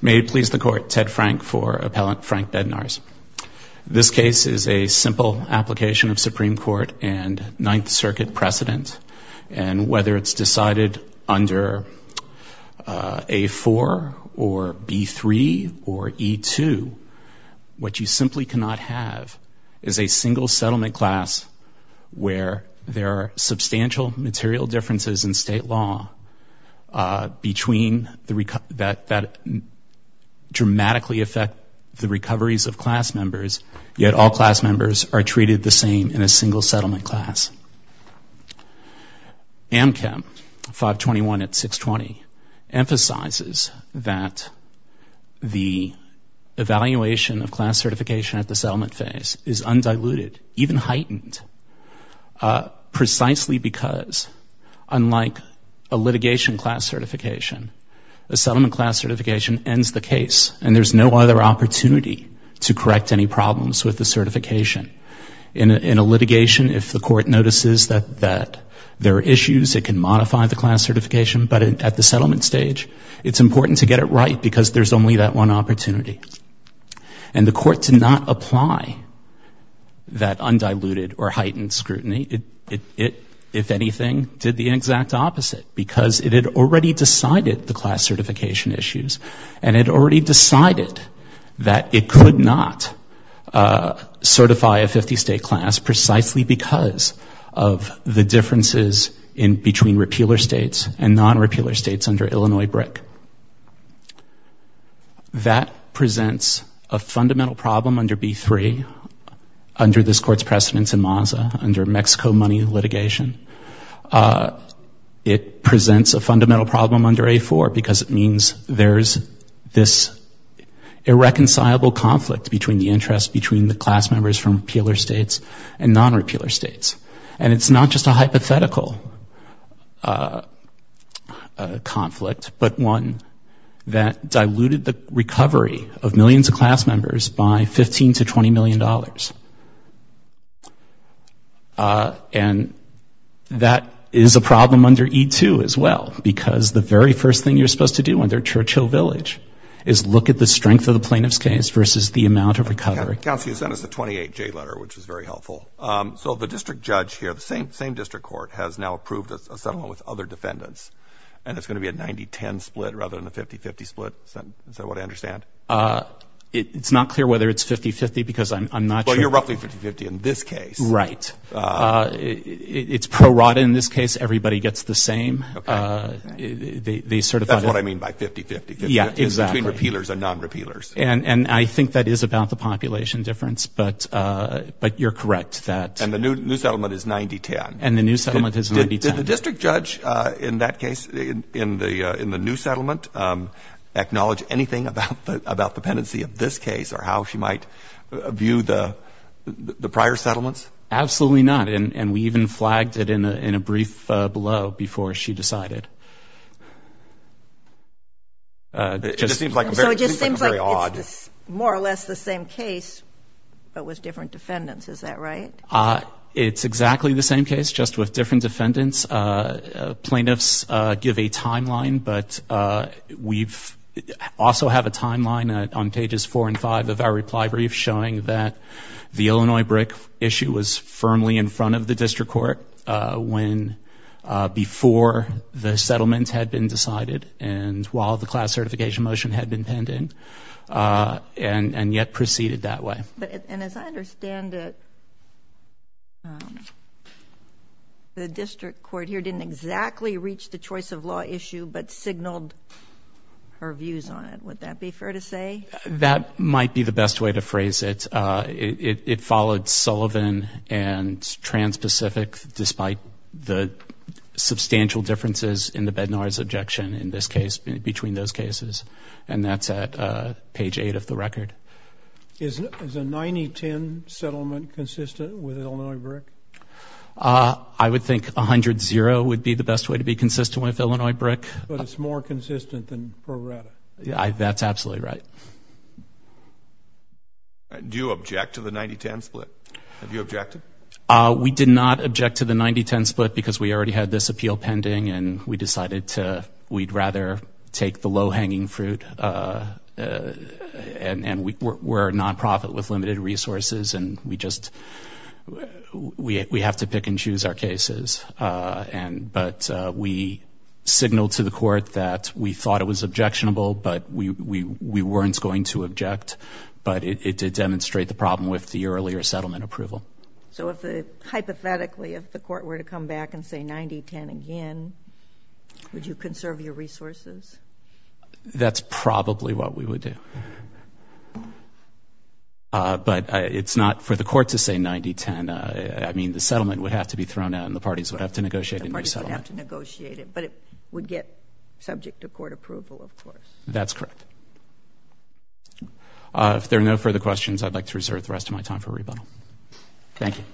May it please the court, Ted Frank for Appellant Frank Bednarz. This case is a simple application of Supreme Court and Ninth Circuit precedent, and whether it's decided under A4 or B3 or E2, what you simply cannot have is a single settlement class where there are substantial material differences in state law that dramatically affect the recoveries of class members, yet all class members are treated the same in a single settlement class. Amchem 521 at 620 emphasizes that the evaluation of class certification at the settlement phase is undiluted, even heightened, precisely because, unlike a litigation class certification, a settlement class certification ends the case, and there's no other opportunity to correct any problems with the certification. In a litigation, if the court notices that there are issues, it can modify the class certification, but at the settlement stage, it's important to get it right because there's only that one opportunity. And the court did not apply that undiluted or heightened scrutiny. It, if anything, did the exact opposite, because it had already decided the class certification issues, and it already decided that it could not certify a 50-state class precisely because of the differences in between repealer states and non-repealer states under Illinois BRIC. That presents a fundamental problem under B3, under this court's precedence in Maza, under Mexico money litigation. It presents a fundamental problem under A4 because it means there's this irreconcilable conflict between the interest between the class members from repealer states and non-repealer states. And it's not just a hypothetical conflict, but one that diluted the recovery of millions of class members by $15 to $20 million. And that is a problem under E2 as well, because the very first thing you're supposed to do under Churchill Village is look at the strength of the plaintiff's case versus the amount of recovery. Counsel, you sent us a 28-J letter, which is very helpful. So the district judge here, the same district court, has now approved a settlement with other defendants, and it's going to be a 90-10 split rather than a 50-50 split. Is that what I understand? It's not clear whether it's 50-50 because I'm not sure. Well, you're roughly 50-50 in this case. Right. It's pro rata in this case. Everybody gets the same. That's what I mean by 50-50. Yeah, exactly. It's between repealers and non-repealers. And I think that is about the population difference, but you're correct. And the new settlement is 90-10. And the new settlement is 90-10. Did the district judge in that case, in the new settlement, acknowledge anything about the pendency of this case or how she might view the prior settlements? Absolutely not. And we even flagged it in a brief below before she decided. It just seems like a very odd. So it just seems like it's more or less the same case, but with different defendants. Is that right? It's exactly the same case, just with different defendants. Plaintiffs give a timeline, but we also have a timeline on Pages 4 and 5 of our reply brief showing that the Illinois brick issue was firmly in front of the district court before the settlement had been decided and while the class certification motion had been penned in and yet proceeded that way. And as I understand it, the district court here didn't exactly reach the choice of law issue, but signaled her views on it. Would that be fair to say? That might be the best way to phrase it. It followed Sullivan and Trans-Pacific, despite the substantial differences in the Bednars objection in this case, between those cases. And that's at Page 8 of the record. Is a 90-10 settlement consistent with Illinois brick? I would think 100-0 would be the best way to be consistent with Illinois brick. But it's more consistent than Pro Rata? That's absolutely right. Do you object to the 90-10 split? Have you objected? We did not object to the 90-10 split because we already had this appeal pending and we decided we'd rather take the low-hanging fruit and we're a nonprofit with limited resources and we have to pick and choose our cases. But we signaled to the court that we thought it was objectionable, but we weren't going to object. But it did demonstrate the problem with the earlier settlement approval. So hypothetically, if the court were to come back and say 90-10 again, would you conserve your resources? That's probably what we would do. But it's not for the court to say 90-10. I mean, the settlement would have to be thrown out and the parties would have to negotiate a new settlement. The parties would have to negotiate it, but it would get subject to court approval, of course. That's correct. If there are no further questions, I'd like to reserve the rest of my time for rebuttal. Thank you.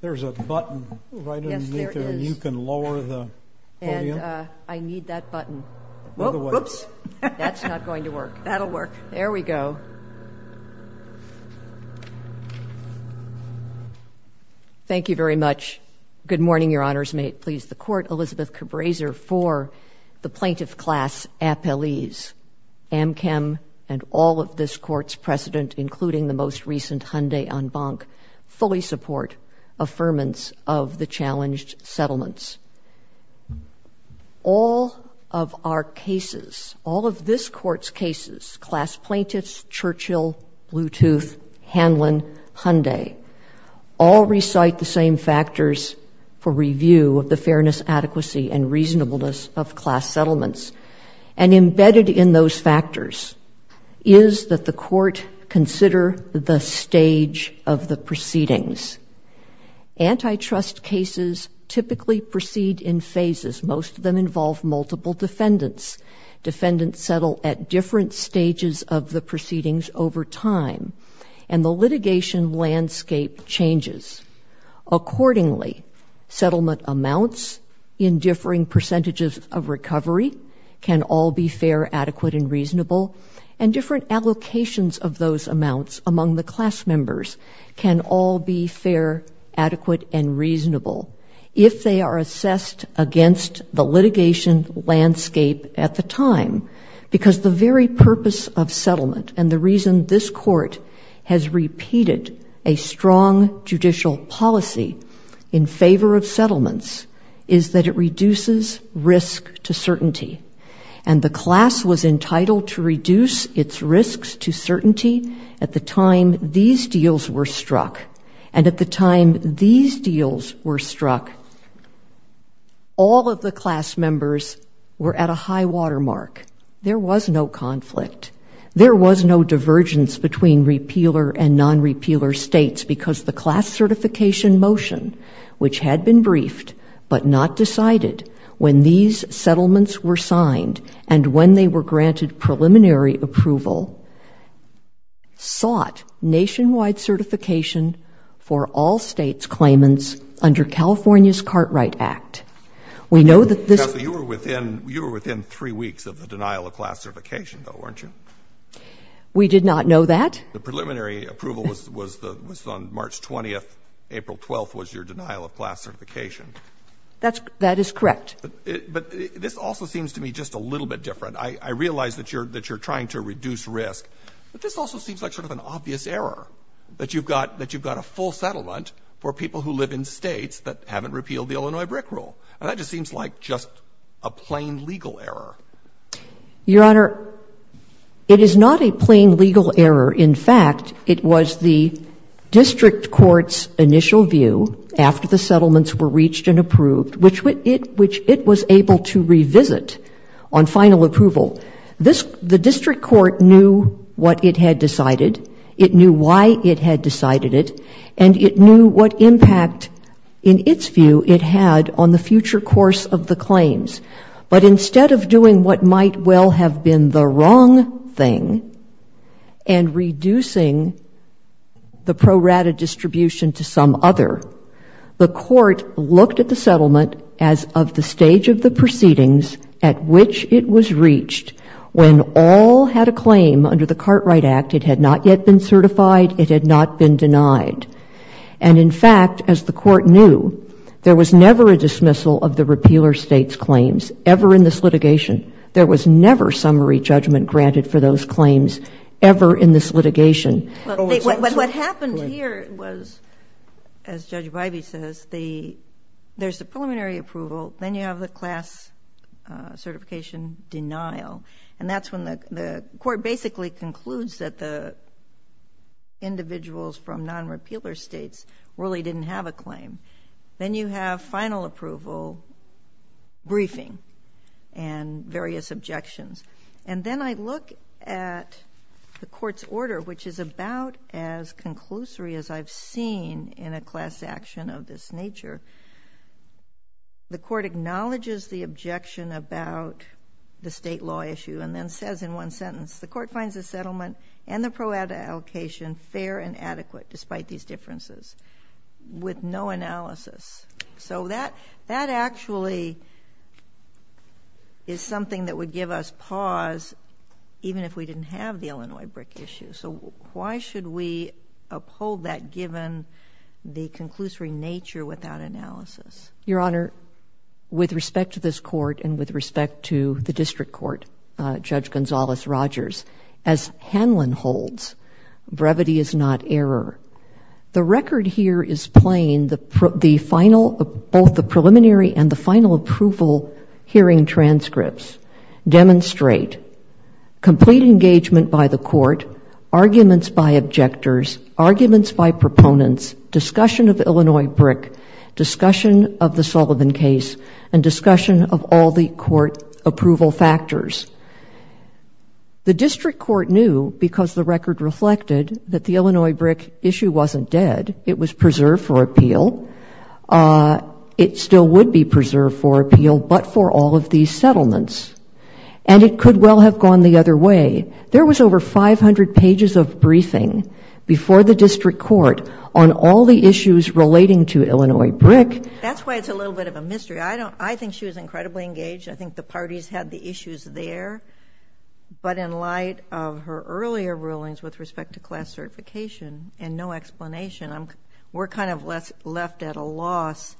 There's a button right underneath there. Yes, there is. You can lower the podium. And I need that button. Whoops. That's not going to work. That'll work. There we go. Thank you very much. Good morning, Your Honors. May it please the Court. Elizabeth Cabraser for the Plaintiff Class Appellees. Amchem and all of this Court's precedent, including the most recent Hyundai en banc, fully support affirmance of the challenged settlements. All of our cases, all of this Court's cases, class plaintiffs, Churchill, Bluetooth, Hanlon, Hyundai, all recite the same factors for review of the fairness, adequacy, and reasonableness of class settlements. And embedded in those factors is that the Court consider the stage of the proceedings. Antitrust cases typically proceed in phases. Most of them involve multiple defendants. Defendants settle at different stages of the proceedings over time. And the litigation landscape changes. Accordingly, settlement amounts in differing percentages of recovery can all be fair, adequate, and reasonable. And different allocations of those amounts among the class members can all be fair, adequate, and reasonable if they are assessed against the litigation landscape at the time. Because the very purpose of settlement and the reason this Court has repeated a strong judicial policy in favor of settlements is that it reduces risk to certainty. And the class was entitled to reduce its risks to certainty at the time these deals were struck. And at the time these deals were struck, all of the class members were at a high watermark. There was no conflict. There was no divergence between repealer and non-repealer states because the class certification motion, which had been briefed but not decided when these settlements were signed and when they were granted preliminary approval, sought nationwide certification for all states' claimants under California's Cartwright Act. We know that this... You were within three weeks of the denial of class certification, though, weren't you? We did not know that. The preliminary approval was on March 20th. April 12th was your denial of class certification. That is correct. But this also seems to me just a little bit different. I realize that you're trying to reduce risk, but this also seems like sort of an obvious error, that you've got a full settlement for people who live in states that haven't repealed the Illinois BRIC rule. And that just seems like just a plain legal error. Your Honor, it is not a plain legal error. In fact, it was the district court's initial view, after the settlements were reached and approved, which it was able to revisit on final approval. The district court knew what it had decided, it knew why it had decided it, and it knew what impact, in its view, it had on the future course of the claims. But instead of doing what might well have been the wrong thing and reducing the pro rata distribution to some other, the court looked at the settlement as of the stage of the proceedings at which it was reached when all had a claim under the Cartwright Act. It had not yet been certified. It had not been denied. And, in fact, as the court knew, there was never a dismissal of the repealer state's claims ever in this litigation. There was never summary judgment granted for those claims ever in this litigation. But what happened here was, as Judge Bybee says, there's the preliminary approval, then you have the class certification denial. And that's when the court basically concludes that the individuals from non-repealer states really didn't have a claim. Then you have final approval briefing. And various objections. And then I look at the court's order, which is about as conclusory as I've seen in a class action of this nature. The court acknowledges the objection about the state law issue and then says in one sentence, the court finds the settlement and the pro rata allocation fair and adequate despite these differences, with no analysis. So that actually is something that would give us pause even if we didn't have the Illinois brick issue. So why should we uphold that given the conclusory nature without analysis? Your Honor, with respect to this court and with respect to the district court, Judge Gonzalez-Rogers, as Hanlon holds, brevity is not error. The record here is plain. Both the preliminary and the final approval hearing transcripts demonstrate complete engagement by the court, arguments by objectors, arguments by proponents, discussion of Illinois brick, discussion of the Sullivan case, and discussion of all the court approval factors. The district court knew because the record reflected that the Illinois brick issue wasn't dead. It was preserved for appeal. It still would be preserved for appeal but for all of these settlements. And it could well have gone the other way. There was over 500 pages of briefing before the district court on all the issues relating to Illinois brick. That's why it's a little bit of a mystery. I think she was incredibly engaged. I think the parties had the issues there. But in light of her earlier rulings with respect to class certification and no explanation, we're kind of left at a loss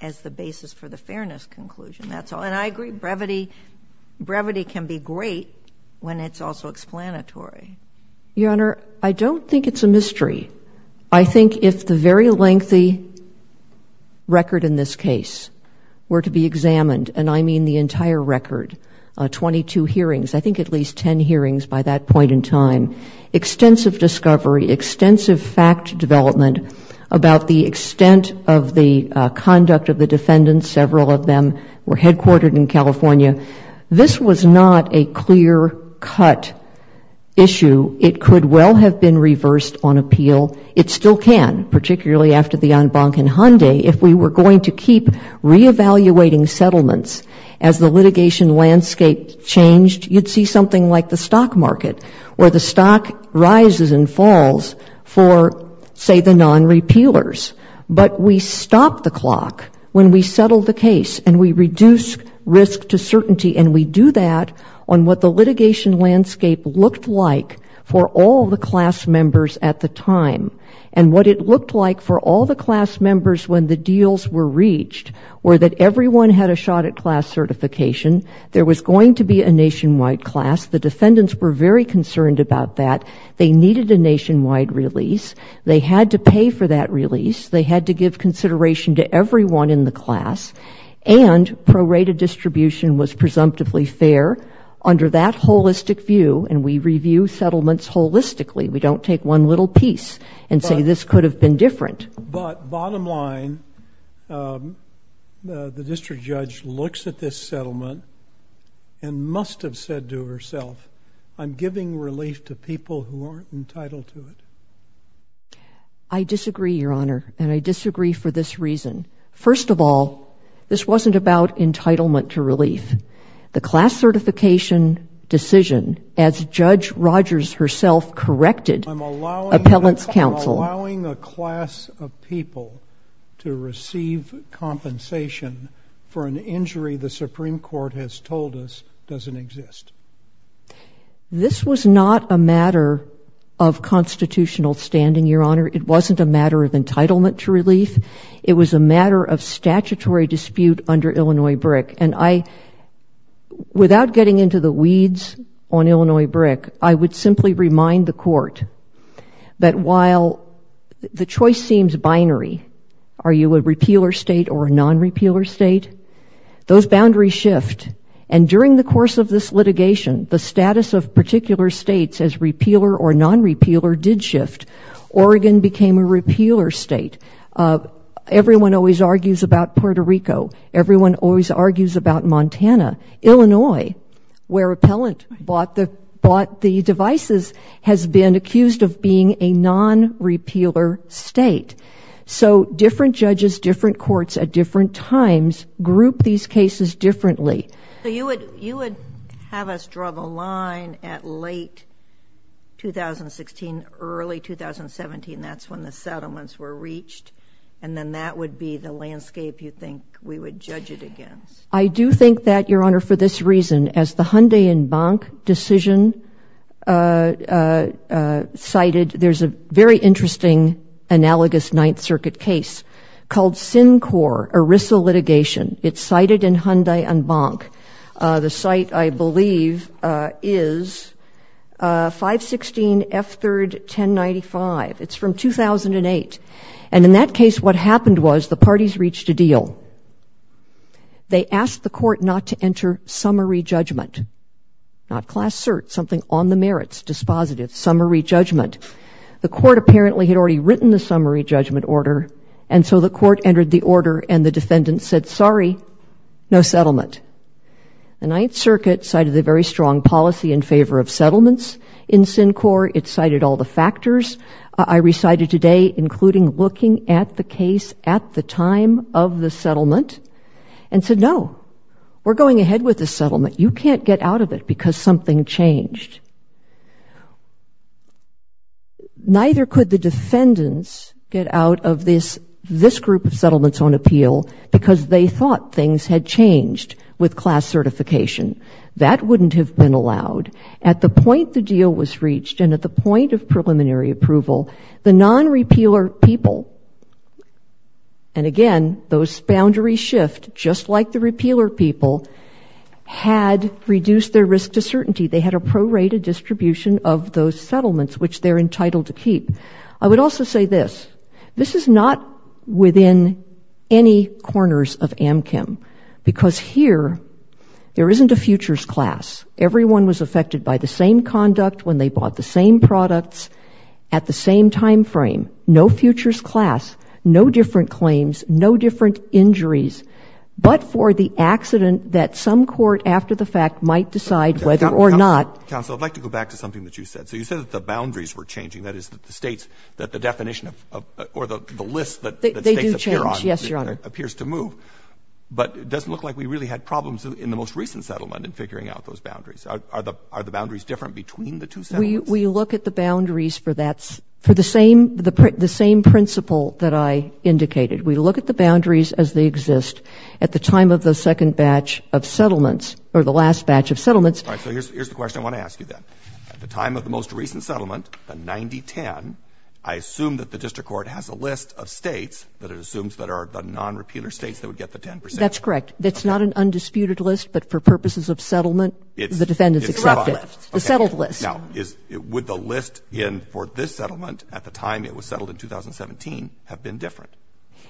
as the basis for the fairness conclusion. And I agree, brevity can be great when it's also explanatory. Your Honor, I don't think it's a mystery. I think if the very lengthy record in this case were to be examined, and I mean the entire record, 22 hearings, I think at least 10 hearings by that point in time, extensive discovery, extensive fact development about the extent of the conduct of the defendants, several of them were headquartered in California, this was not a clear-cut issue. It could well have been reversed on appeal. It still can, particularly after the en banc in Hyundai, if we were going to keep reevaluating settlements as the litigation landscape changed, you'd see something like the stock market, where the stock rises and falls for, say, the non-repealers. But we stop the clock when we settle the case and we reduce risk to certainty, and we do that on what the litigation landscape looked like for all the class members at the time. And what it looked like for all the class members when the deals were reached were that everyone had a shot at class certification, there was going to be a nationwide class, the defendants were very concerned about that, they needed a nationwide release, they had to pay for that release, they had to give consideration to everyone in the class, and prorated distribution was presumptively fair. Under that holistic view, and we review settlements holistically, we don't take one little piece and say this could have been different. But bottom line, the district judge looks at this settlement and must have said to herself, I'm giving relief to people who aren't entitled to it. I disagree, Your Honor, and I disagree for this reason. First of all, this wasn't about entitlement to relief. The class certification decision, as Judge Rogers herself corrected appellant's counsel... I'm allowing a class of people to receive compensation for an injury the Supreme Court has told us doesn't exist. This was not a matter of constitutional standing, Your Honor. It wasn't a matter of entitlement to relief. It was a matter of statutory dispute under Illinois BRIC. Without getting into the weeds on Illinois BRIC, I would simply remind the Court that while the choice seems binary, are you a repealer state or a non-repealer state, those boundaries shift. And during the course of this litigation, the status of particular states as repealer or non-repealer did shift. Oregon became a repealer state. Everyone always argues about Puerto Rico. Everyone always argues about Montana. Illinois, where appellant bought the devices, has been accused of being a non-repealer state. So different judges, different courts at different times group these cases differently. You would have us draw the line at late 2016, early 2017. That's when the settlements were reached. And then that would be the landscape you think we would judge it against. I do think that, Your Honor, for this reason, as the Hyundai and Bank decision cited, there's a very interesting analogous Ninth Circuit case called Sincor, ERISA litigation. It's cited in Hyundai and Bank. The site, I believe, is 516 F3rd 1095. It's from 2008. And in that case, what happened was the parties reached a deal. They asked the court not to enter summary judgment, not class cert, something on the merits, dispositive, summary judgment. The court apparently had already written the summary judgment order, and so the court entered the order, and the defendant said, sorry, no settlement. The Ninth Circuit cited a very strong policy in favor of settlements in Sincor. It cited all the factors. I recited today including looking at the case at the time of the settlement and said, no, we're going ahead with the settlement. You can't get out of it because something changed. Neither could the defendants get out of this group of settlements on appeal because they thought things had changed with class certification. That wouldn't have been allowed. At the point the deal was reached and at the point of preliminary approval, the non-repealer people, and again, those boundaries shift, just like the repealer people, had reduced their risk to certainty. They had a prorated distribution of those settlements, which they're entitled to keep. I would also say this. This is not within any corners of AMCM because here there isn't a futures class. Everyone was affected by the same conduct when they bought the same products at the same time frame. No futures class. No different claims. No different injuries. But for the accident that some court after the fact might decide whether or not Counsel, I'd like to go back to something that you said. So you said that the boundaries were changing. That is, the States, that the definition of, or the list that States appear on They do change, yes, Your Honor. appears to move. But it doesn't look like we really had problems in the most recent settlement in figuring out those boundaries. Are the boundaries different between the two settlements? We look at the boundaries for the same principle that I indicated. We look at the boundaries as they exist at the time of the second batch of settlements or the last batch of settlements. All right. So here's the question I want to ask you, then. At the time of the most recent settlement, the 90-10, I assume that the district court has a list of States that it assumes that are the non-repealer States that would get the 10 percent. That's correct. It's not an undisputed list, but for purposes of settlement, the defendant's accepted. It's a list. A settled list. Now, would the list for this settlement at the time it was settled in 2017 have been different?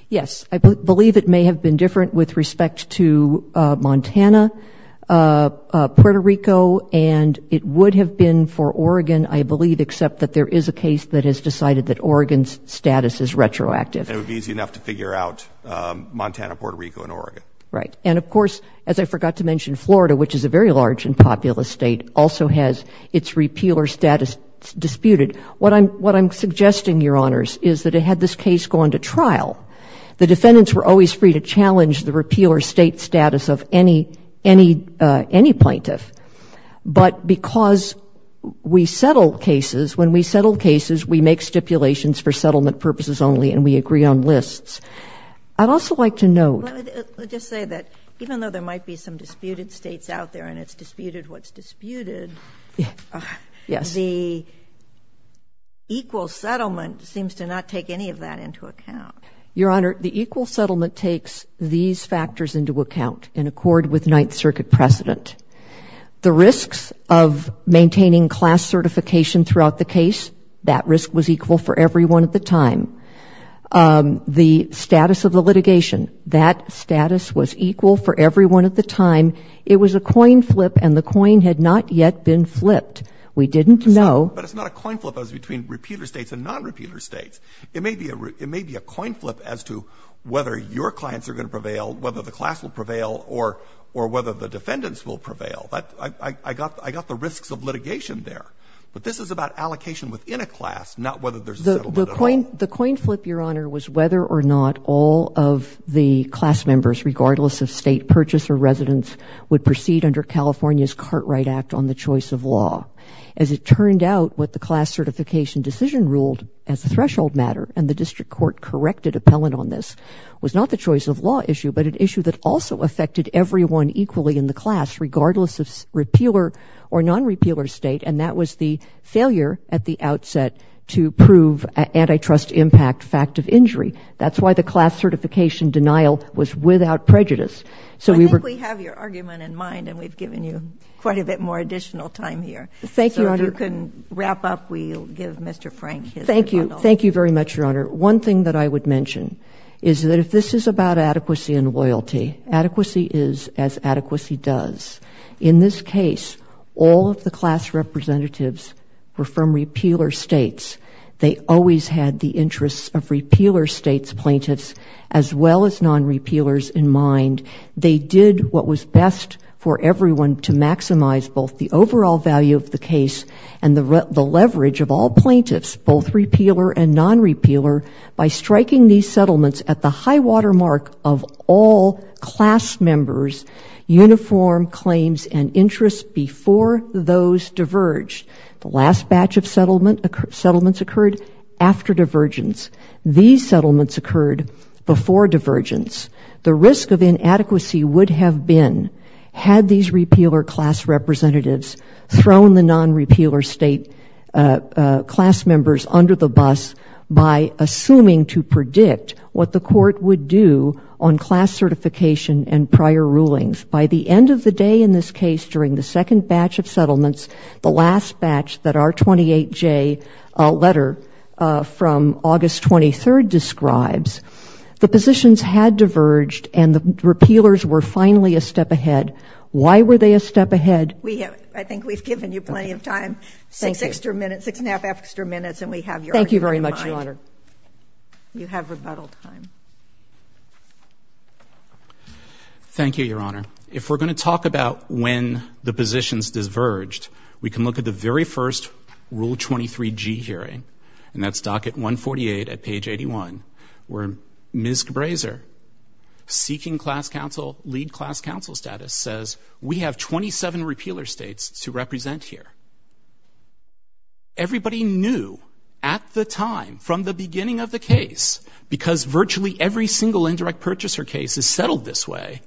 Yes. I believe it may have been different with respect to Montana, Puerto Rico, and it would have been for Oregon, I believe, except that there is a case that has decided that Oregon's status is retroactive. And it would be easy enough to figure out Montana, Puerto Rico, and Oregon. Right. And, of course, as I forgot to mention, Florida, which is a very large and populous State, also has its repealer status disputed. What I'm suggesting, Your Honors, is that had this case gone to trial, the defendants were always free to challenge the repealer State status of any plaintiff. But because we settle cases, when we settle cases, we make stipulations for settlement purposes only, and we agree on lists. I'd also like to note... Let me just say that even though there might be some disputed States out there and it's disputed what's disputed... Yes. ...the equal settlement seems to not take any of that into account. Your Honor, the equal settlement takes these factors into account in accord with Ninth Circuit precedent. The risks of maintaining class certification throughout the case, that risk was equal for everyone at the time. The status of the litigation, that status was equal for everyone at the time. It was a coin flip, and the coin had not yet been flipped. We didn't know... But it's not a coin flip as between repealer States and non-repealer States. It may be a coin flip as to whether your clients are going to prevail, whether the class will prevail, or whether the defendants will prevail. I got the risks of litigation there. But this is about allocation within a class, not whether there's a settlement at all. The coin flip, Your Honor, was whether or not all of the class members, regardless of State purchase or residence, would proceed under California's Cartwright Act on the choice of law. As it turned out, what the class certification decision ruled as a threshold matter, and the district court corrected appellant on this, was not the choice of law issue, but an issue that also affected everyone equally in the class, regardless of repealer or non-repealer State. And that was the failure at the outset to prove antitrust impact fact of injury. That's why the class certification denial was without prejudice. So we were... I think we have your argument in mind, and we've given you quite a bit more additional time here. Thank you, Your Honor. So if you can wrap up, we'll give Mr. Frank his rebuttal. Thank you. Thank you very much, Your Honor. One thing that I would mention is that if this is about adequacy and loyalty, adequacy is as adequacy does. In this case, all of the class representatives were from repealer States. They always had the interests of repealer States plaintiffs, as well as non-repealers in mind. They did what was best for everyone to maximize both the overall value of the case and the leverage of all plaintiffs, both repealer and non-repealer, by striking these settlements at the high-water mark of all class members' uniform claims and interests before those diverged. The last batch of settlements occurred after divergence. These settlements occurred before divergence. The risk of inadequacy would have been, had these repealer class representatives thrown the non-repealer State class members under the bus by assuming to predict what the court would do on class certification and prior rulings. By the end of the day in this case, during the second batch of settlements, the last batch that our 28J letter from August 23rd describes, the positions had diverged and the repealers were finally a step ahead. Why were they a step ahead? We have, I think we've given you plenty of time, six extra minutes, six and a half extra minutes, and we have your argument in mind. Thank you very much, Your Honor. You have rebuttal time. Thank you, Your Honor. If we're going to talk about when the positions diverged, we can look at the very first Rule 23G hearing, and that's docket 148 at page 81, where Ms. Grazer, seeking class counsel, lead class counsel status, says, we have 27 repealer states to represent here. Everybody knew at the time, from the beginning of the case, because virtually every single indirect purchaser case is settled this way,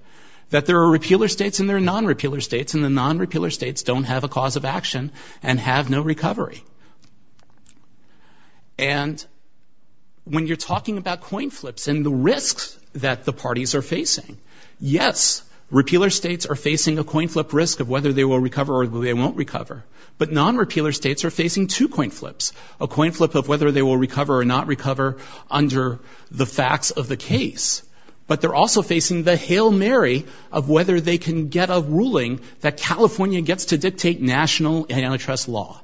that there are repealer states and there are non-repealer states, and the non-repealer states don't have a cause of action and have no recovery. And when you're talking about coin flips and the risks that the parties are facing, yes, repealer states are facing a coin flip risk of whether they will recover or they won't recover, but non-repealer states are facing two coin flips, a coin flip of whether they will recover or not recover under the facts of the case, but they're also facing the Hail Mary of whether they can get a ruling that California gets to dictate national antitrust law.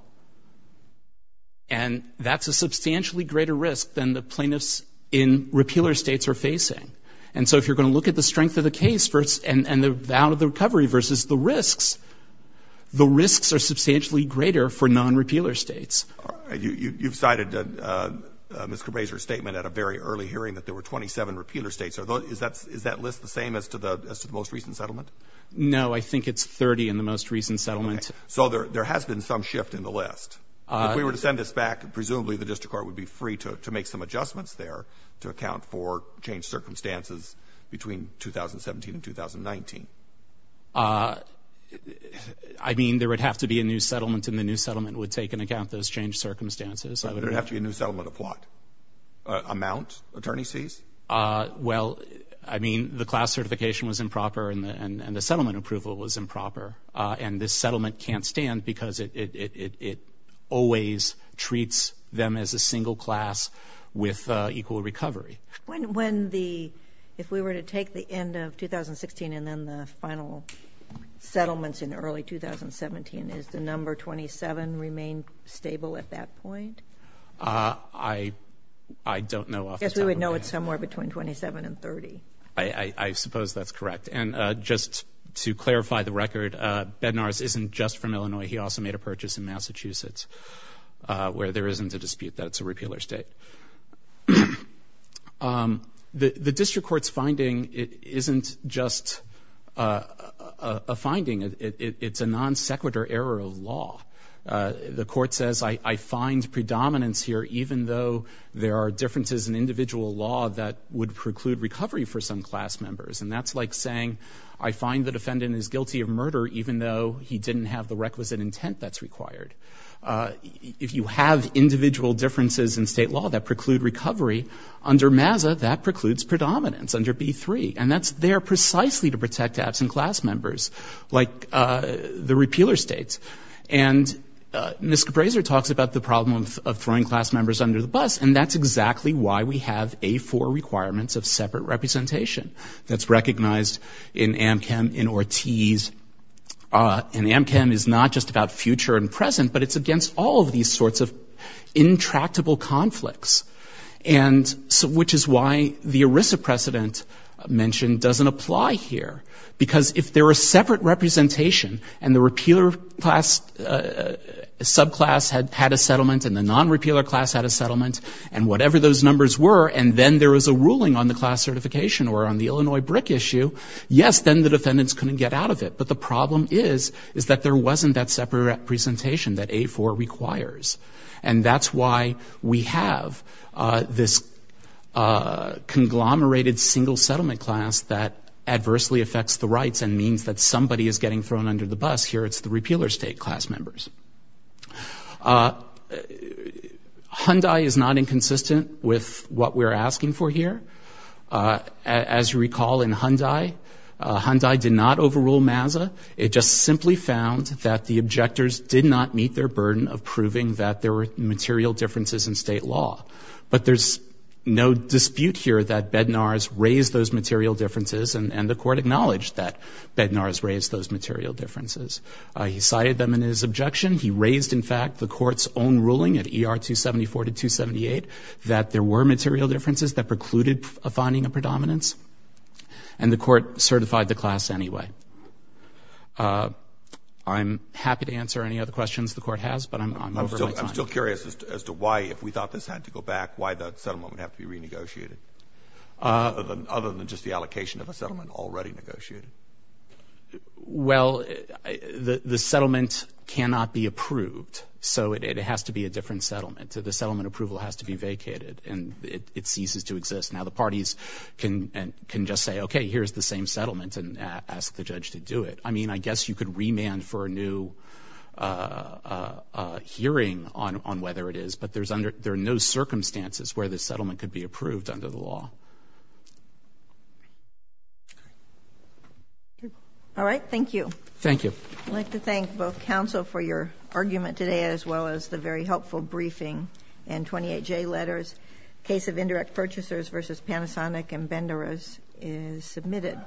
And that's a substantially greater risk than the plaintiffs in repealer states are facing. And so if you're going to look at the strength of the case and the value of the recovery versus the risks, the risks are substantially greater for non-repealer states. You've cited Ms. Grazer's statement at a very early hearing that there were 27 repealer states. Is that list the same as to the most recent settlement? No, I think it's 30 in the most recent settlement. Okay. So there has been some shift in the list. If we were to send this back, presumably the district court would be free to make some adjustments there to account for changed circumstances between 2017 and 2019. I mean, there would have to be a new settlement, and the new settlement would take into account those changed circumstances. So there would have to be a new settlement of what amount attorney sees? Well, I mean, the class certification was improper, and the settlement approval was because it always treats them as a single class with equal recovery. If we were to take the end of 2016 and then the final settlements in early 2017, is the number 27 remain stable at that point? I don't know off the top of my head. I guess we would know it's somewhere between 27 and 30. I suppose that's correct. And just to clarify the record, Bednarz isn't just from Illinois. He also made a purchase in Massachusetts, where there isn't a dispute that it's a repealer state. The district court's finding isn't just a finding. It's a non sequitur error of law. The court says, I find predominance here, even though there are differences in individual law that would preclude recovery for some class members. And that's like saying, I find the defendant is guilty of murder, even though he didn't have the requisite intent that's required. If you have individual differences in state law that preclude recovery, under MAZA, that precludes predominance, under B-3. And that's there precisely to protect absent class members, like the repealer states. And Ms. Cabraser talks about the problem of throwing class members under the bus, and that's exactly why we have A-4 requirements of separate representation. That's recognized in AmChem, in Ortiz. And AmChem is not just about future and present, but it's against all of these sorts of intractable conflicts, which is why the ERISA precedent mentioned doesn't apply here. Because if there were separate representation, and the repealer subclass had a settlement, and the non-repealer class had a settlement, and whatever those numbers were, and then there was a ruling on the class certification or on the Illinois BRIC issue, yes, then the defendants couldn't get out of it. But the problem is, is that there wasn't that separate representation that A-4 requires. And that's why we have this conglomerated single settlement class that adversely affects the rights and means that somebody is getting thrown under the bus. Here it's the repealer state class members. Hyundai is not inconsistent with what we're asking for here. As you recall, in Hyundai, Hyundai did not overrule MAZA. It just simply found that the objectors did not meet their burden of proving that there were material differences in state law. But there's no dispute here that Bednar's raised those material differences, and the Court acknowledged that Bednar's raised those material differences. He cited them in his objection. He raised, in fact, the Court's own ruling at ER 274 to 278 that there were material differences that precluded a finding of predominance. And the Court certified the class anyway. I'm happy to answer any other questions the Court has, but I'm over my time. I'm still curious as to why, if we thought this had to go back, why the settlement would have to be renegotiated other than just the allocation of a settlement already negotiated? Well, the settlement cannot be approved, so it has to be a different settlement. The settlement approval has to be vacated, and it ceases to exist. Now the parties can just say, okay, here's the same settlement, and ask the judge to do it. I mean, I guess you could remand for a new hearing on whether it is, but there are no circumstances where the settlement could be approved under the law. All right. Thank you. Thank you. I'd like to thank both counsel for your argument today, as well as the very helpful briefing and 28J letters. Case of Indirect Purchasers v. Panasonic and Bednar's is submitted.